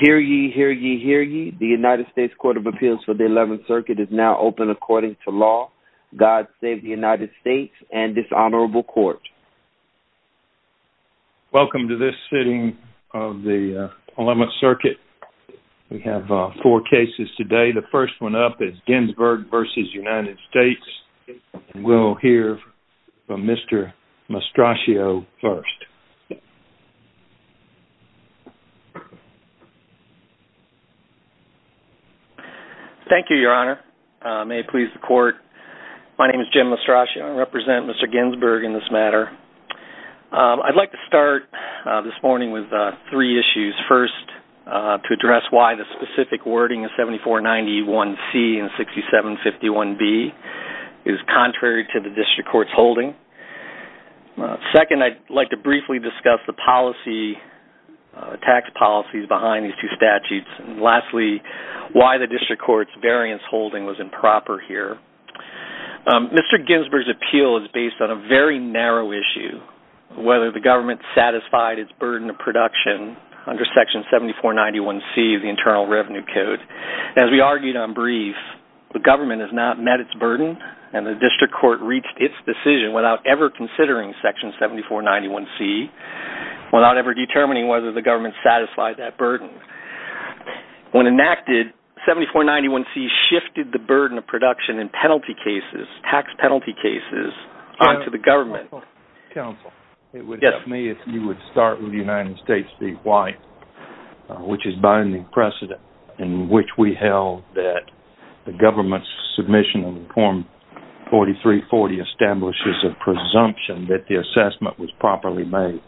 Hear ye, hear ye, hear ye. The United States Court of Appeals for the 11th Circuit is now open according to law. God save the United States and this honorable court. Welcome to this sitting of the 11th Circuit. We have four cases today. The first one up is Ginsburg versus United States. We'll hear from Mr. Mastraccio first. Thank you, Your Honor. May it please the court. My name is Jim Mastraccio. I represent Mr. Ginsburg in this matter. I'd like to start this morning with three issues. First, to address why the specific wording of 7491C and 6751B is contrary to the district court's holding. Second, I'd like to briefly discuss the policy, tax policies behind these two statutes. And lastly, why the district court's variance holding was improper here. Mr. Ginsburg's appeal is based on a very narrow issue, whether the government satisfied its burden of production under Section 7491C of the Internal Revenue Code. As we argued on brief, the government has not met its burden and the district court reached its decision without ever considering Section 7491C, without ever determining whether the government satisfied that burden. When enacted, 7491C shifted the burden of production in penalty cases, tax penalty cases, onto the government. Counsel, it would help me if you would start with United States v. White, which is binding precedent in which we held that the government's submission of the form 4340 establishes a presumption that the assessment was properly made.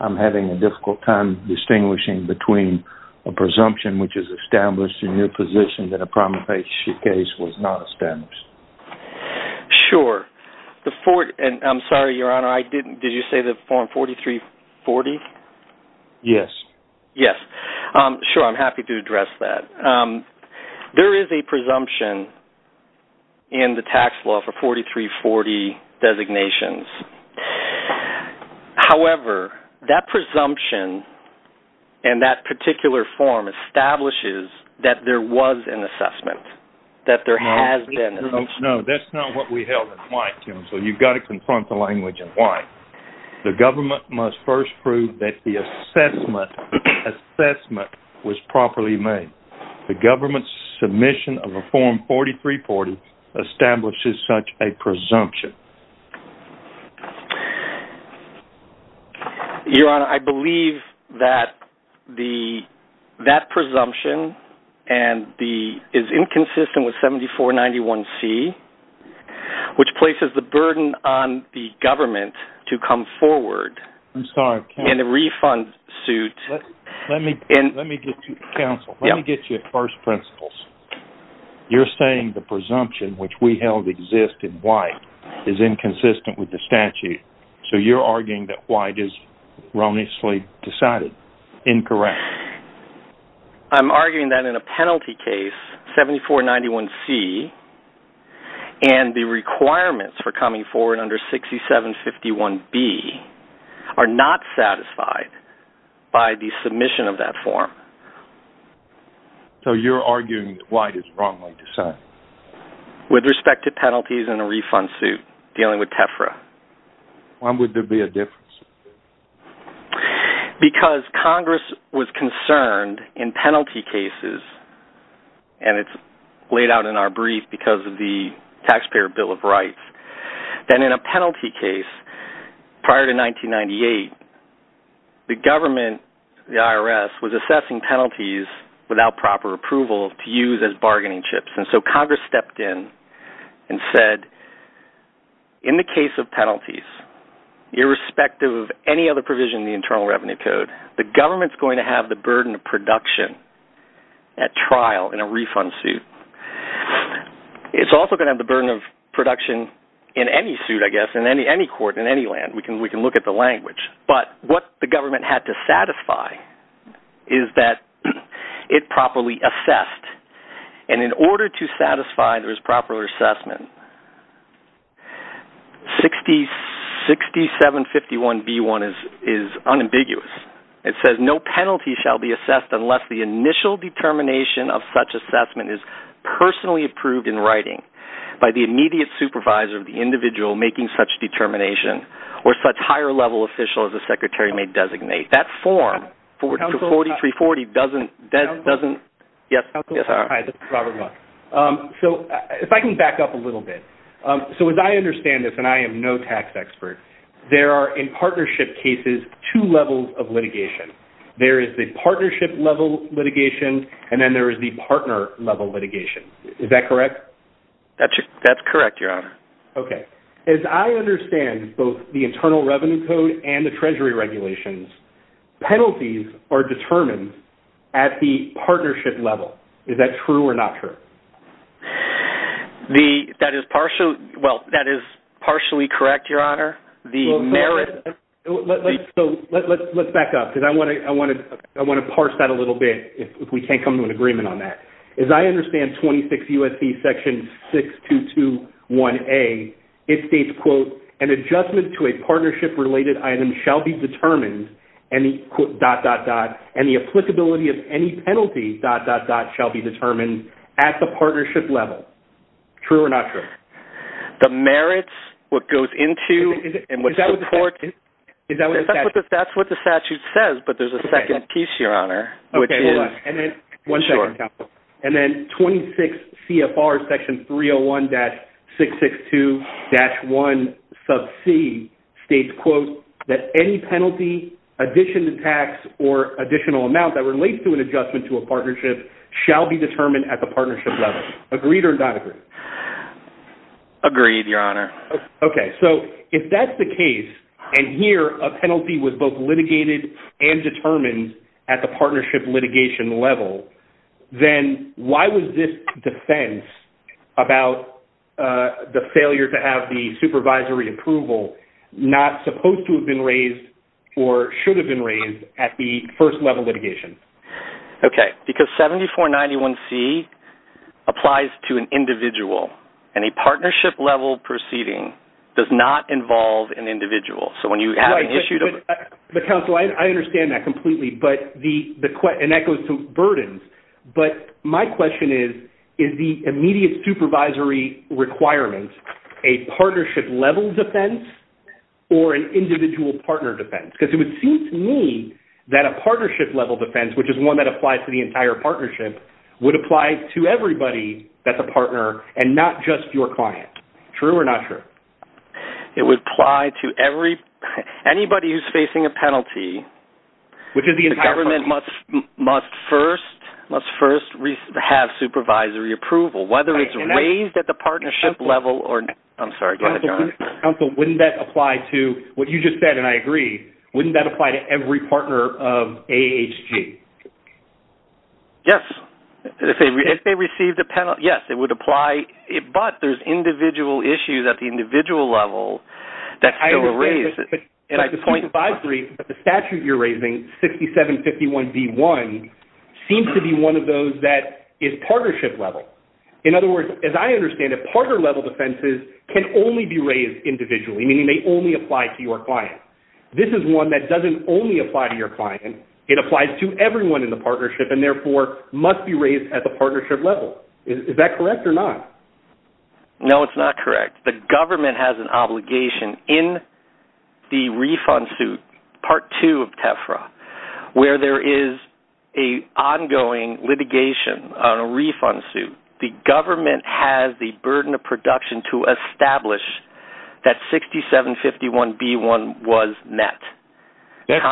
I'm having a difficult time distinguishing between a presumption which is established in your position that a promulgation case was not established. Sure, and I'm sorry, Your Honor, I didn't, did you say the form 4340? Yes. Yes, sure, I'm happy to address that. There is a presumption in the tax law for 4340 designations. However, that presumption and that particular form establishes that there was an assessment, that there has been an assessment. No, that's not what we held in White, Jim, so you've got to confront the language in White. The government must first prove that the assessment was properly made. The government's submission of a form 4340 establishes such a presumption. Your Honor, I believe that the, that presumption and the, is inconsistent with 7491C, which places the burden on the government to come forward. I'm sorry, counsel. In a refund suit. Let me, let me get you, counsel. Yeah. Let me get you at first principles. You're saying the presumption, which we held existed in White, is inconsistent with the statute, so you're arguing that White is wrongly decided. Incorrect. I'm arguing that in a penalty case, 7491C and the requirements for coming forward under 6751B are not satisfied by the submission of that form. So you're arguing that White is wrongly decided. With respect to penalties in a refund suit dealing with TEFRA. Why would there be a difference? Because Congress was concerned in penalty cases, and it's laid out in our brief because of the Taxpayer Bill of Rights, that in a penalty case prior to 1998, the government, the IRS, was assessing penalties without proper approval to use as bargaining chips. And so Congress stepped in and said, in the case of penalties, irrespective of any other provision in the Internal Revenue Code, the government's going to have the burden of production at trial in a refund suit. It's also gonna have the burden of production in any suit, I guess, in any court, in any land. We can look at the language. But what the government had to satisfy is that it properly assessed. And in order to satisfy this proper assessment, 6751B1 is unambiguous. It says, no penalty shall be assessed unless the initial determination of such assessment is personally approved in writing by the immediate supervisor of the individual making such determination or such higher-level official as the secretary may designate. That form, 4340, doesn't... Yes, sir. Hi, this is Robert Muck. So if I can back up a little bit. So as I understand this, and I am no tax expert, there are, in partnership cases, two levels of litigation. There is the partnership-level litigation, and then there is the partner-level litigation. Is that correct? That's correct, Your Honor. Okay. As I understand both the Internal Revenue Code and the Treasury regulations, penalties are determined at the partnership level. Is that true or not true? That is partially correct, Your Honor. The merit... So let's back up, because I want to parse that a little bit if we can't come to an agreement on that. As I understand 26 U.S.C. section 6221A, it states, quote, an adjustment to a partnership-related item shall be determined, dot, dot, dot, and the applicability of any penalty, dot, dot, dot, shall be determined at the partnership level. True or not true? The merits, what goes into, and what's supported... Is that what the statute... That's what the statute says, but there's a second piece, Your Honor, which is... Okay, hold on. One second. And then 26 CFR section 301-662-1c states, quote, that any penalty, addition to tax, or additional amount that relates to an adjustment to a partnership shall be determined at the partnership level. Agreed or not agreed? Agreed, Your Honor. Okay, so if that's the case, and here a penalty was both litigated and determined at the partnership litigation level, then why was this defense about the failure to have the supervisory approval not supposed to have been raised or should have been raised at the first-level litigation? Okay, because 74-91c applies to an individual, and a partnership-level proceeding does not involve an individual. So when you have an issue to... But, counsel, I understand that completely, but the... And that goes to burdens. But my question is, is the immediate supervisory requirement a partnership-level defense or an individual-partner defense? Because it would seem to me that a partnership-level defense, which is one that applies to the entire partnership, would apply to everybody that's a partner and not just your client. True or not true? It would apply to every... If there's a penalty... Which is the entire partnership. The government must first have supervisory approval, whether it's raised at the partnership-level or... I'm sorry, do you want to jump in? Counsel, wouldn't that apply to, what you just said, and I agree, wouldn't that apply to every partner of AHG? Yes, if they received a penalty, yes, it would apply, but there's individual issues at the individual level that's still raised. And I disagree, but the statute you're raising, 6751B1, seems to be one of those that is partnership-level. In other words, as I understand it, partner-level defenses can only be raised individually, meaning they only apply to your client. This is one that doesn't only apply to your client. It applies to everyone in the partnership and therefore must be raised at the partnership level. Is that correct or not? No, it's not correct. The government has an obligation in the refund suit, part two of TEFRA, where there is a ongoing litigation on a refund suit. The government has the burden of production to establish that 6751B1 was met. That's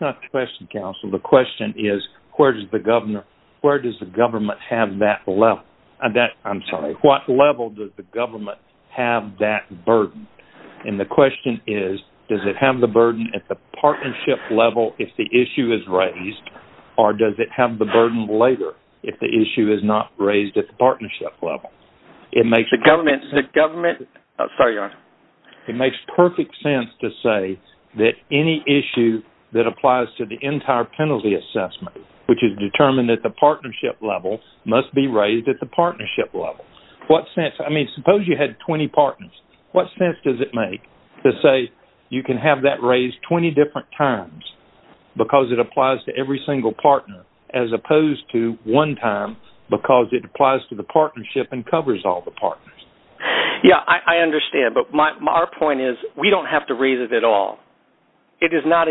not the question, Counsel. The question is, where does the government have that level? I'm sorry, what level does the government have that burden? And the question is, does it have the burden at the partnership level if the issue is raised, or does it have the burden later if the issue is not raised at the partnership level? It makes- The government, the government, sorry, Your Honor. It makes perfect sense to say that any issue that applies to the entire penalty assessment, which is determined at the partnership level, must be raised at the partnership level. What sense, I mean, suppose you had 20 partners. What sense does it make to say you can have that raised 20 different times because it applies to every single partner, as opposed to one time because it applies to the partnership and covers all the partners? Yeah, I understand, but our point is, we don't have to raise it at all. It is not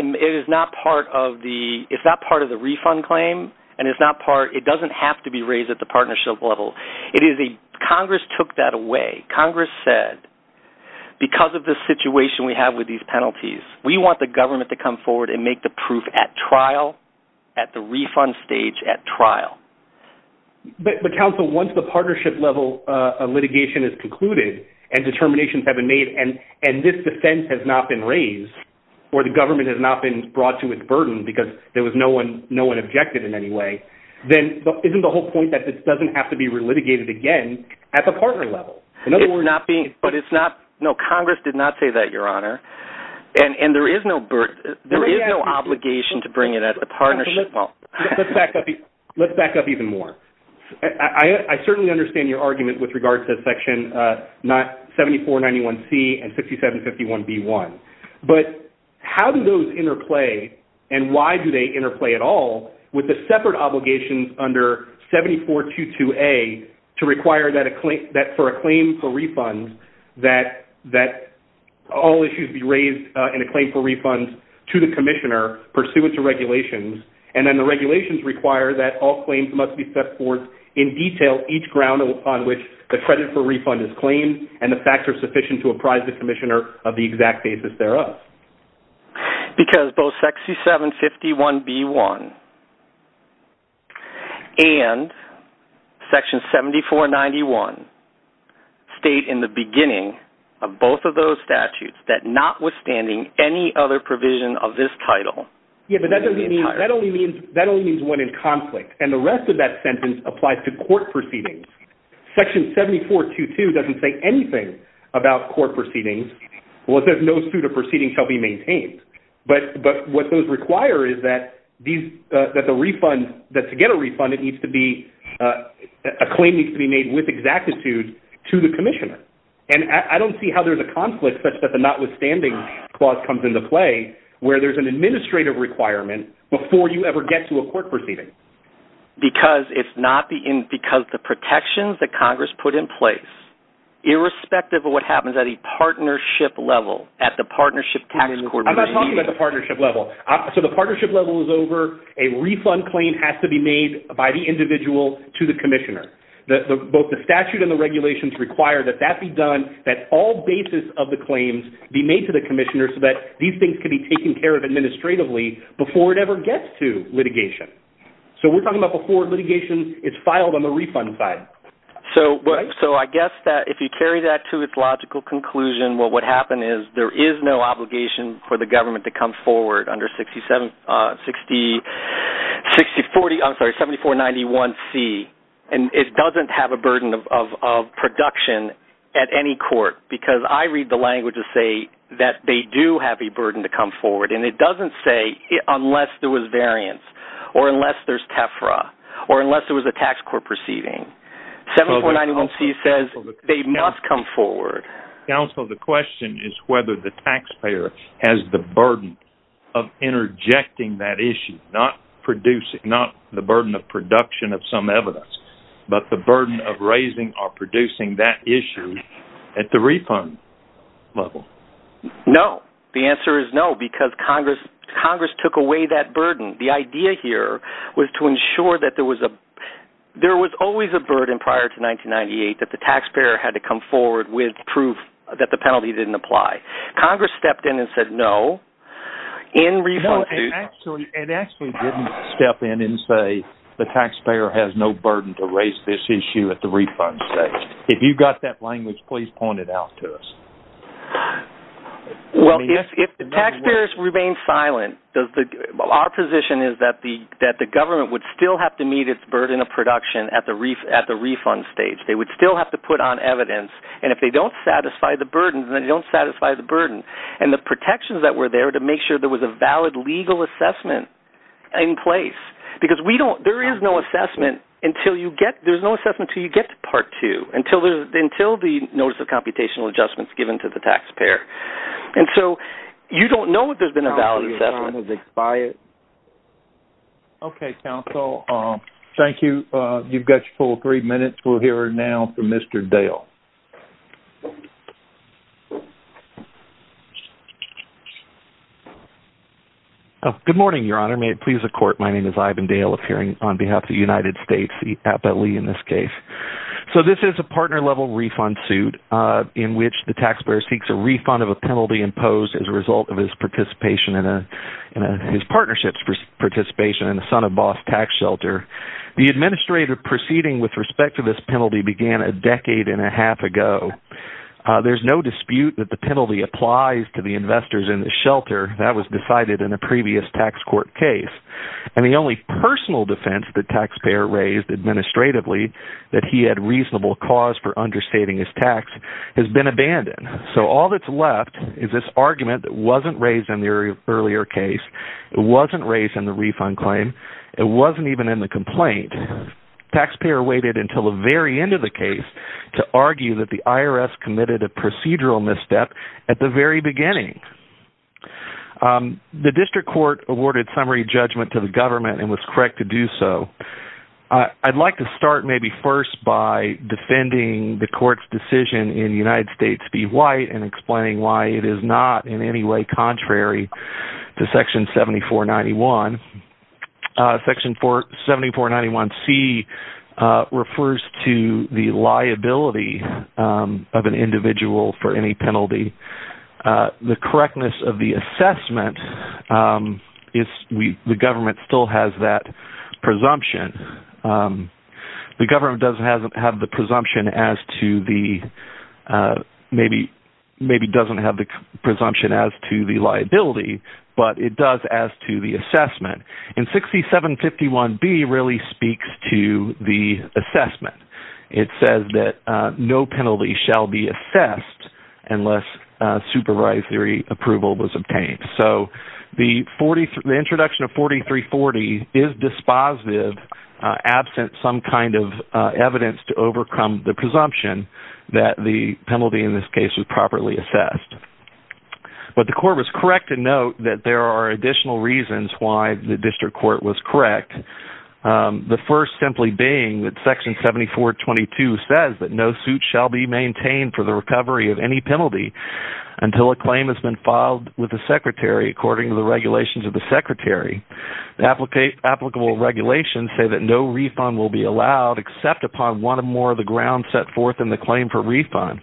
part of the, it's not part of the refund claim, and it's not part, it doesn't have to be raised at the partnership level. It is a, Congress took that away. Congress said, because of the situation we have with these penalties, we want the government to come forward and make the proof at trial, at the refund stage, at trial. But counsel, once the partnership level litigation is concluded and determinations have been made and this defense has not been raised, or the government has not been brought to its burden because there was no one objected in any way, then isn't the whole point that it doesn't have to be re-litigated again at the partner level? In other words- It's not being, but it's not, no, Congress did not say that, your honor. And there is no, there is no obligation to bring it at the partnership level. Let's back up, let's back up even more. I certainly understand your argument with regard to that section, 7491C and 6751B1. But how do those interplay, and why do they interplay at all with the separate obligations under 7422A to require that for a claim for refund, that all issues be raised in a claim for refund to the commissioner pursuant to regulations, and then the regulations require that all claims must be set forth in detail each ground upon which the credit for refund is claimed, and the facts are sufficient to apprise the commissioner of the exact basis thereof? Because both 6751B1 and section 7491 state in the beginning of both of those statutes that notwithstanding any other provision of this title- Yeah, but that only means one in conflict, and the rest of that sentence applies to court proceedings. Section 7422 doesn't say anything about court proceedings. Well, there's no suit of proceedings shall be maintained. But what those require is that the refund, that to get a refund, a claim needs to be made with exactitude to the commissioner. And I don't see how there's a conflict such that the notwithstanding clause comes into play where there's an administrative requirement before you ever get to a court proceeding. Because the protections that Congress put in place, irrespective of what happens at a partnership level, at the partnership tax court- I'm not talking about the partnership level. So the partnership level is over, a refund claim has to be made by the individual to the commissioner. Both the statute and the regulations require that that be done, that all basis of the claims be made to the commissioner so that these things can be taken care of administratively before it ever gets to litigation. So we're talking about before litigation is filed on the refund side. So I guess that if you carry that to its logical conclusion, well, what happened is there is no obligation for the government to come forward under 6491C. And it doesn't have a burden of production at any court, because I read the language to say that they do have a burden to come forward. And it doesn't say unless there was variance, or unless there's TEFRA, or unless there was a tax court proceeding. 7491C says they must come forward. Counsel, the question is whether the taxpayer has the burden of interjecting that issue, not the burden of production of some evidence, but the burden of raising or producing that issue at the refund level. No, the answer is no, because Congress took away that burden. The idea here was to ensure that there was a... There was a burden prior to 1998 that the taxpayer had to come forward with proof that the penalty didn't apply. Congress stepped in and said no. In refund suit... No, it actually didn't step in and say the taxpayer has no burden to raise this issue at the refund stage. If you got that language, please point it out to us. Well, if the taxpayers remain silent, our position is that the government would still have to meet its burden of production at the refund stage. They would still have to put on evidence, and if they don't satisfy the burden, then they don't satisfy the burden. And the protections that were there to make sure there was a valid legal assessment in place, because there is no assessment until you get... There's no assessment until you get to part two, until the notice of computational adjustment is given to the taxpayer. And so you don't know if there's been a valid assessment. Counsel, your time has expired. Okay, counsel. Thank you. You've got your full three minutes. We'll hear now from Mr. Dale. Good morning, Your Honor. May it please the court, my name is Ivan Dale, appearing on behalf of the United States, the FLE in this case. So this is a partner-level refund suit in which the taxpayer seeks a refund of a penalty imposed as a result of his participation in a... His partnership's participation in the Son of Boss tax shelter. The administrative proceeding with respect to this penalty began a decade and a half ago. There's no dispute that the penalty applies to the investors in the shelter. That was decided in a previous tax court case. And the only personal defense the taxpayer raised administratively, that he had reasonable cause for understating his tax, has been abandoned. So all that's left is this argument that wasn't raised in the earlier case. It wasn't raised in the refund claim. It wasn't even in the complaint. Taxpayer waited until the very end of the case to argue that the IRS committed a procedural misstep at the very beginning. The district court awarded summary judgment to the government and was correct to do so. I'd like to start maybe first by defending the court's decision in United States v. White and explaining why it is not in any way contrary to section 7491. Section 7491C refers to the liability of an individual for any penalty. The correctness of the assessment is, the government still has that presumption. The government doesn't have the presumption as to the, maybe doesn't have the presumption as to the liability, but it does as to the assessment. And 6751B really speaks to the assessment. It says that no penalty shall be assessed unless supervisory approval was obtained. So the introduction of 4340 is dispositive absent some kind of evidence to overcome the presumption that the penalty in this case was properly assessed. But the court was correct to note that there are additional reasons why the district court was correct. The first simply being that section 7422 says that no suit shall be maintained for the recovery of any penalty until a claim has been filed with the secretary according to the regulations of the secretary. The applicable regulations say that no refund will be allowed except upon one or more of the grounds set forth in the claim for refund.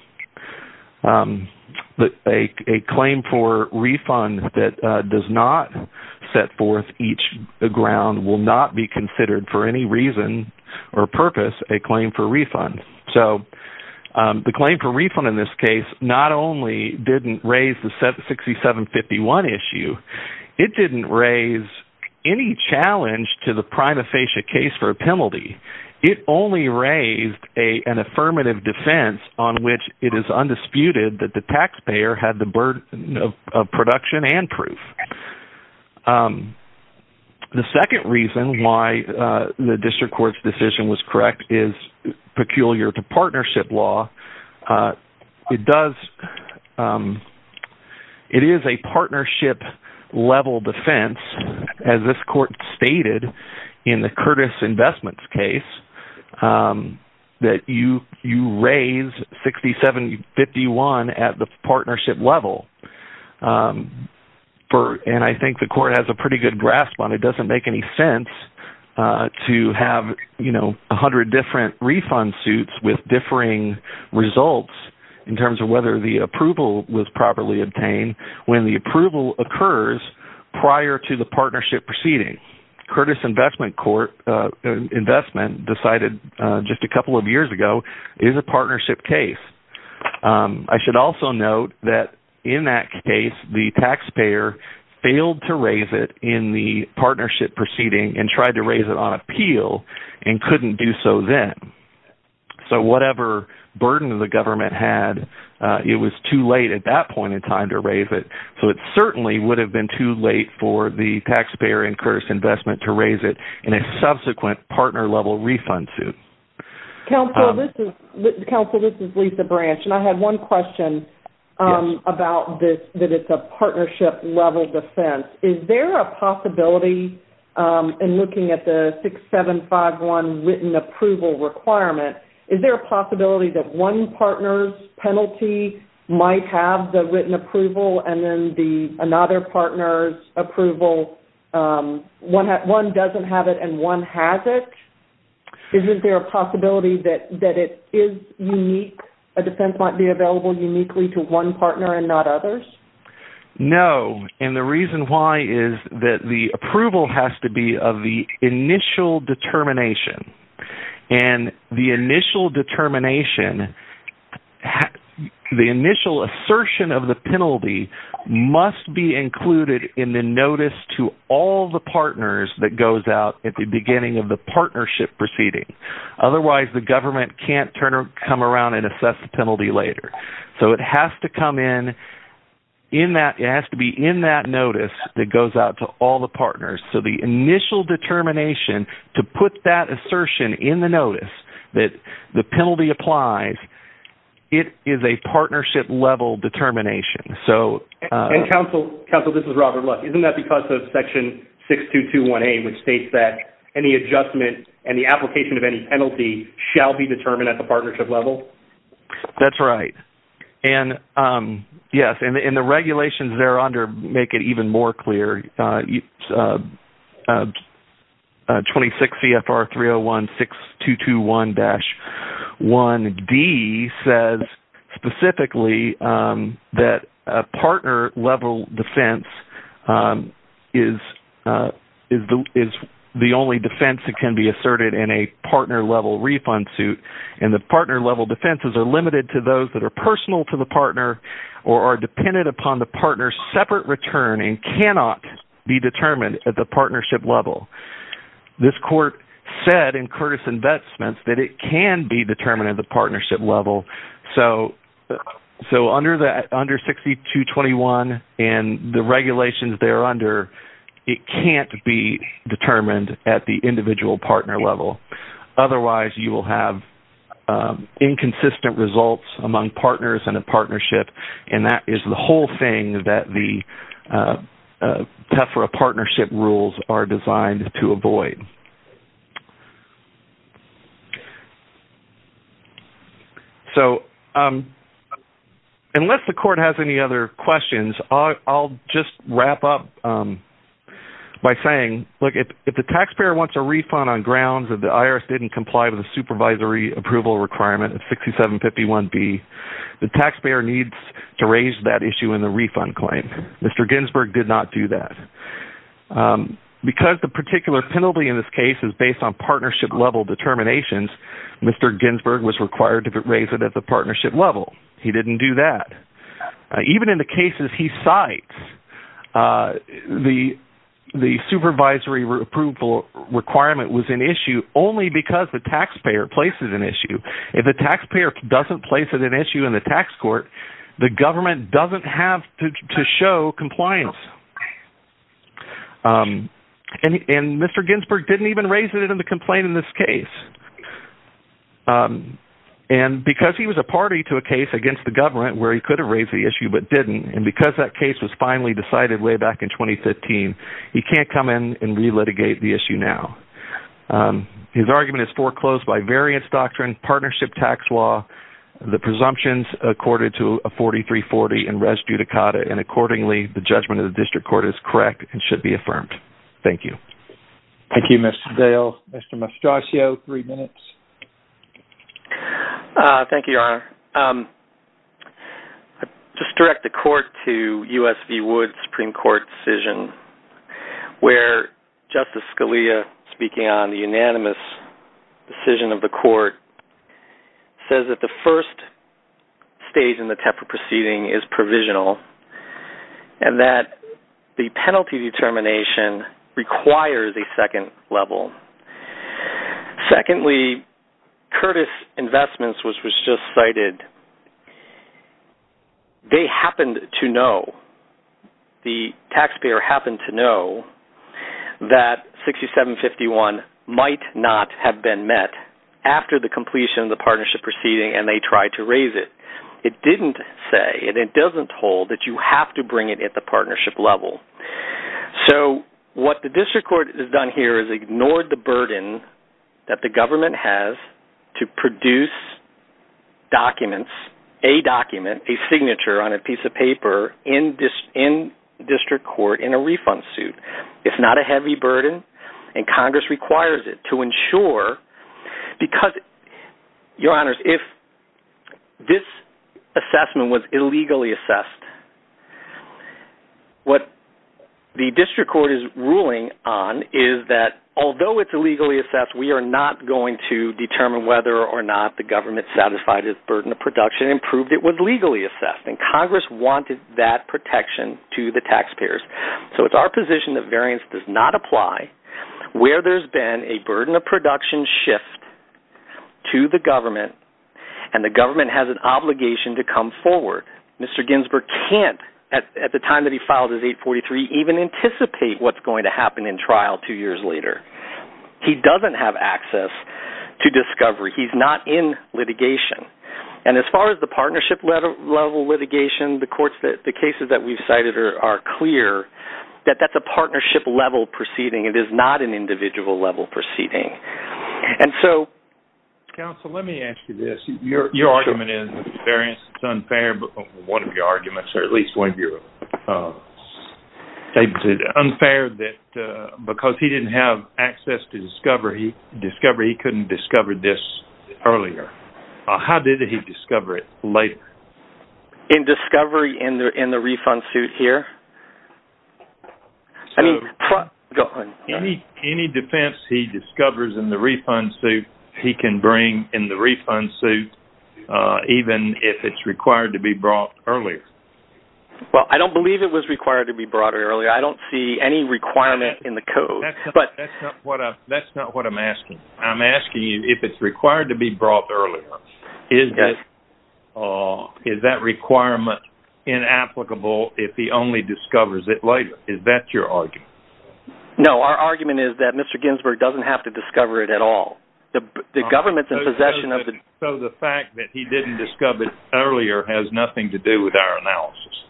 But a claim for refund that does not set forth each ground will not be considered for any reason or purpose a claim for refund. So the claim for refund in this case, not only didn't raise the 6751 issue, it didn't raise any challenge to the prima facie case for a penalty. It only raised an affirmative defense on which it is undisputed that the taxpayer had the burden of production and proof. The second reason why the district court's decision was correct is peculiar to partnership law. It is a partnership level defense as this court stated in the Curtis Investments case that you raise 6751 at the partnership level. And I think the court has a pretty good grasp on it. It doesn't make any sense to have a hundred different refund suits with differing results in terms of whether the approval was properly obtained when the approval occurs prior to the partnership proceeding. Curtis Investment Court, investment decided just a couple of years ago is a partnership case. I should also note that in that case, the taxpayer failed to raise it in the partnership proceeding and tried to raise it on appeal and couldn't do so then. So whatever burden of the government had, it was too late at that point in time to raise it. So it certainly would have been too late for the taxpayer in Curtis Investment to raise it in a subsequent partner level refund suit. Council, this is Lisa Branch. And I had one question about this, that it's a partnership level defense. Is there a possibility in looking at the 6751 written approval requirement, is there a possibility that one partner's penalty might have the written approval and then another partner's approval, one doesn't have it and one has it? Isn't there a possibility that it is unique, a defense might be available uniquely to one partner and not others? No. And the reason why is that the approval has to be of the initial determination. And the initial determination, the initial assertion of the penalty must be included in the notice to all the partners that goes out at the beginning of the partnership proceeding. Otherwise, the government can't come around and assess the penalty later. So it has to come in, it has to be in that notice that goes out to all the partners. So the initial determination to put that assertion in the notice that the penalty applies, it is a partnership level determination. So... And counsel, this is Robert Luck. Isn't that because of section 6221A, which states that any adjustment and the application of any penalty shall be determined at the partnership level? That's right. And yes, and the regulations there under make it even more clear. 26 CFR 3016221-1D says specifically that a partner level defense is the only defense that can be asserted in a partner level refund suit. And the partner level defenses are limited to those that are personal to the partner or are dependent upon the partner's separate return and cannot be determined at the partnership level. This court said in Curtis Investments that it can be determined at the partnership level. So under 6221 and the regulations there under, it can't be determined at the individual partner level. Otherwise, you will have inconsistent results among partners in a partnership. And that is the whole thing that the TEFRA partnership rules are designed to avoid. So unless the court has any other questions, I'll just wrap up by saying, look, if the taxpayer wants a refund on grounds that the IRS didn't comply with the supervisory approval requirement of 62751B, the taxpayer needs to raise that issue in the refund claim. Mr. Ginsburg did not do that. Because the particular penalty in this case is based on partnership level determinations, Mr. Ginsburg was required to raise it at the partnership level. He didn't do that. Even in the cases he cites, the supervisory approval requirement was an issue only because the taxpayer places an issue. If the taxpayer doesn't place it an issue in the tax court, the government doesn't have to show compliance. And Mr. Ginsburg didn't even raise it in the complaint in this case. And because he was a party to a case against the government where he could have raised the issue but didn't, and because that case was finally decided way back in 2015, he can't come in and re-litigate the issue now. His argument is foreclosed by variance doctrine, partnership tax law, the presumptions accorded to 4340 and res judicata, and accordingly, the judgment of the district court is correct and should be affirmed. Thank you. Thank you, Mr. Dale. Mr. Mastraccio, three minutes. Thank you, Your Honor. Just direct the court to U.S. v. Wood Supreme Court decision where Justice Scalia, speaking on the unanimous decision of the court, says that the first stage in the TEPA proceeding is provisional and that the penalty determination requires a second level. Secondly, Curtis Investments, which was just cited, they happened to know, the taxpayer happened to know, that 6751 might not have been met after the completion of the partnership proceeding and they tried to raise it. It didn't say, and it doesn't hold, that you have to bring it at the partnership level. So what the district court has done here is ignored the burden that the government has to produce documents, a document, a signature on a piece of paper in district court in a refund suit. It's not a heavy burden and Congress requires it to ensure, because, Your Honors, if this assessment was illegally assessed, what the district court is ruling on is that although it's illegally assessed, we are not going to determine whether or not the government satisfied its burden of production and proved it was legally assessed. And Congress wanted that protection to the taxpayers. So it's our position that variance does not apply where there's been a burden of production shift to the government and the government has an obligation to come forward. Mr. Ginsburg can't, at the time that he filed his 843, even anticipate what's going to happen in trial two years later. He doesn't have access to discovery. He's not in litigation. And as far as the partnership level litigation, the courts, the cases that we've cited are clear that that's a partnership level proceeding. It is not an individual level proceeding. And so- Counsel, let me ask you this. Your argument is that variance is unfair, but one of your arguments, or at least one of your statements is it unfair that because he didn't have access to discovery, he couldn't discover this earlier. How did he discover it later? In discovery in the refund suit here. I mean- Go ahead. Any defense he discovers in the refund suit, he can bring in the refund suit even if it's required to be brought earlier. Well, I don't believe it was required to be brought earlier. I don't see any requirement in the code. But- That's not what I'm asking. I'm asking you if it's required to be brought earlier. Is that requirement inapplicable if he only discovers it later? Is that your argument? No, our argument is that Mr. Ginsburg doesn't have to discover it at all. The government's in possession of the- So the fact that he didn't discover it earlier has nothing to do with our analysis?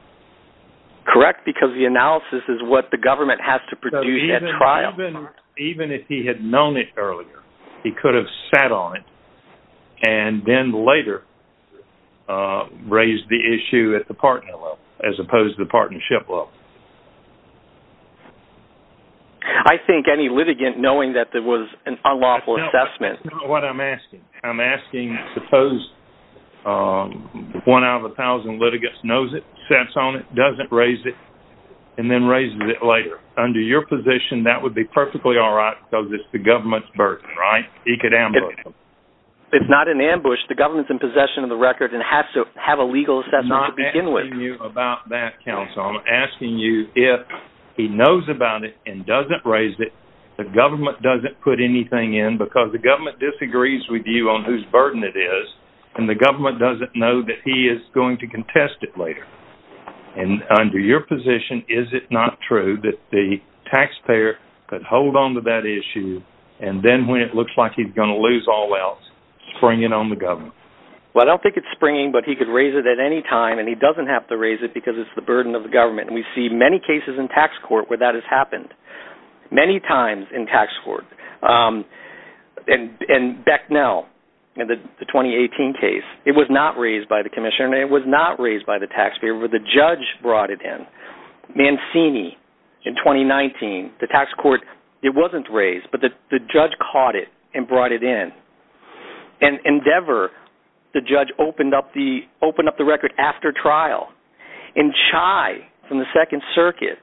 Correct, because the analysis is what the government has to produce at trial. Even if he had known it earlier, he could have sat on it and then later raised the issue at the partner level as opposed to the partnership level. I think any litigant knowing that there was an unlawful assessment- That's not what I'm asking. I'm asking, suppose one out of a thousand litigants knows it, sits on it, doesn't raise it, and then raises it later. Under your position, that would be perfectly all right because it's the government's burden, right? He could ambush them. It's not an ambush. The government's in possession of the record and has to have a legal assessment to begin with. I'm not asking you about that, counsel. I'm asking you if he knows about it and doesn't raise it, the government doesn't put anything in because the government disagrees with you on whose burden it is, and the government doesn't know that he is going to contest it later. And under your position, is it not true that the taxpayer could hold onto that issue and then when it looks like he's going to lose all else, spring it on the government? Well, I don't think it's springing, but he could raise it at any time and he doesn't have to raise it because it's the burden of the government. And we see many cases in tax court where that has happened, many times in tax court. And Becknell, in the 2018 case, it was not raised by the commissioner and it was not raised by the taxpayer, but the judge brought it in. Mancini, in 2019, the tax court, it wasn't raised, but the judge caught it and brought it in. And Endeavor, the judge opened up the record after trial. And Chai, from the Second Circuit,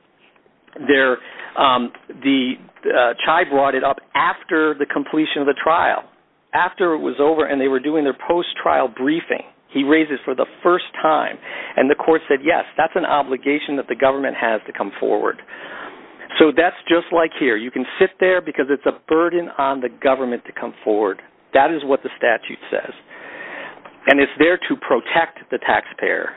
Chai brought it up after the completion of the trial, after it was over and they were doing their post-trial briefing, he raised it for the first time. And the court said, yes, that's an obligation that the government has to come forward. So that's just like here. You can sit there because it's a burden on the government to come forward. That is what the statute says. And it's there to protect the taxpayer.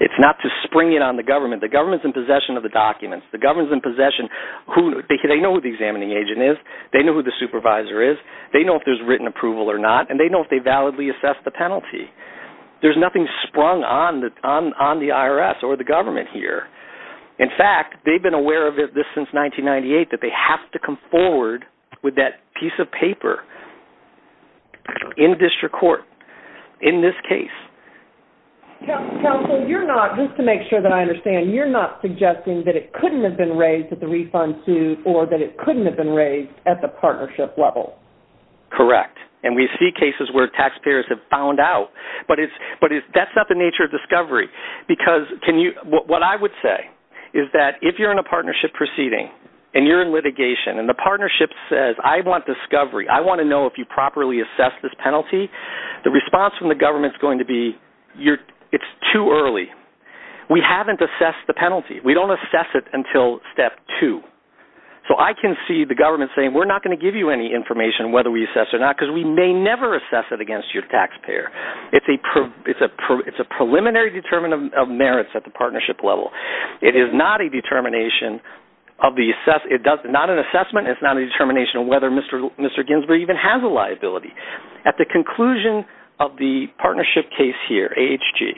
It's not to spring it on the government. The government's in possession of the documents. The government's in possession, they know who the examining agent is, they know who the supervisor is, they know if there's written approval or not, and they know if they validly assess the penalty. There's nothing sprung on the IRS or the government here. In fact, they've been aware of this since 1998, that they have to come forward with that piece of paper in district court, in this case. Counsel, you're not, just to make sure that I understand, you're not suggesting that it couldn't have been raised at the refund suit or that it couldn't have been raised at the partnership level. Correct. And we see cases where taxpayers have found out but that's not the nature of discovery because what I would say is that if you're in a partnership proceeding and you're in litigation and the partnership says, I want discovery, I wanna know if you properly assess this penalty, the response from the government's going to be, it's too early. We haven't assessed the penalty. We don't assess it until step two. So I can see the government saying, we're not gonna give you any information whether we assess or not because we may never assess it against your taxpayer. It's a preliminary determinant of merits at the partnership level. It is not a determination of the, not an assessment, it's not a determination of whether Mr. Ginsburg even has a liability. At the conclusion of the partnership case here, AHG,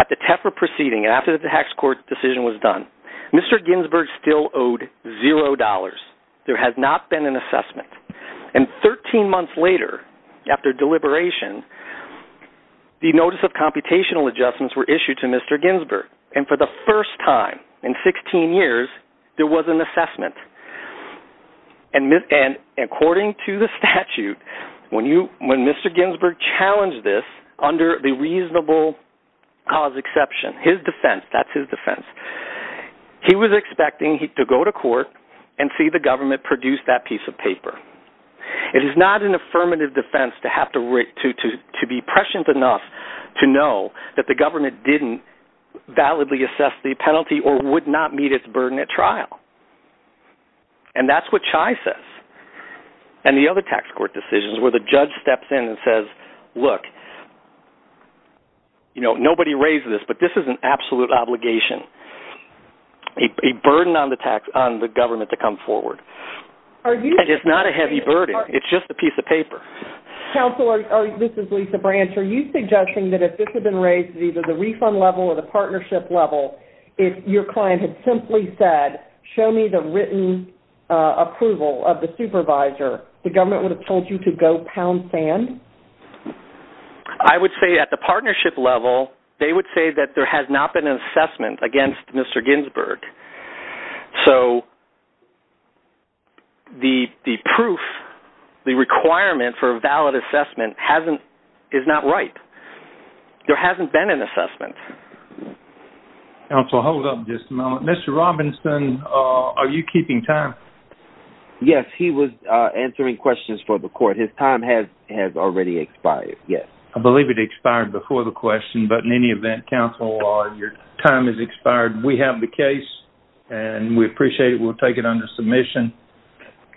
at the Tefra proceeding and after the tax court decision was done, Mr. Ginsburg still owed $0. There has not been an assessment. And 13 months later after deliberation, the notice of computational adjustments were issued to Mr. Ginsburg. And for the first time in 16 years, there was an assessment. And according to the statute, when Mr. Ginsburg challenged this under the reasonable cause exception, his defense, that's his defense. He was expecting to go to court and see the government produce that piece of paper. It is not an affirmative defense to have to be prescient enough to know that the government didn't validly assess the penalty or would not meet its burden at trial. And that's what Chai says. And the other tax court decisions where the judge steps in and says, look, you know, nobody raised this, but this is an absolute obligation. A burden on the government to come forward. It is not a heavy burden. It's just a piece of paper. Counselor, this is Lisa Branch. Are you suggesting that if this had been raised at either the refund level or the partnership level, if your client had simply said, show me the written approval of the supervisor, the government would have told you to go pound sand? I would say at the partnership level, they would say that there has not been an assessment against Mr. Ginsburg. So the proof, the requirement for a valid assessment is not right. There hasn't been an assessment. Counsel, hold up just a moment. Mr. Robinson, are you keeping time? Yes, he was answering questions for the court. His time has already expired, yes. I believe it expired before the question, but in any event, Counsel, your time has expired. We have the case, and we appreciate it. We'll take it under submission.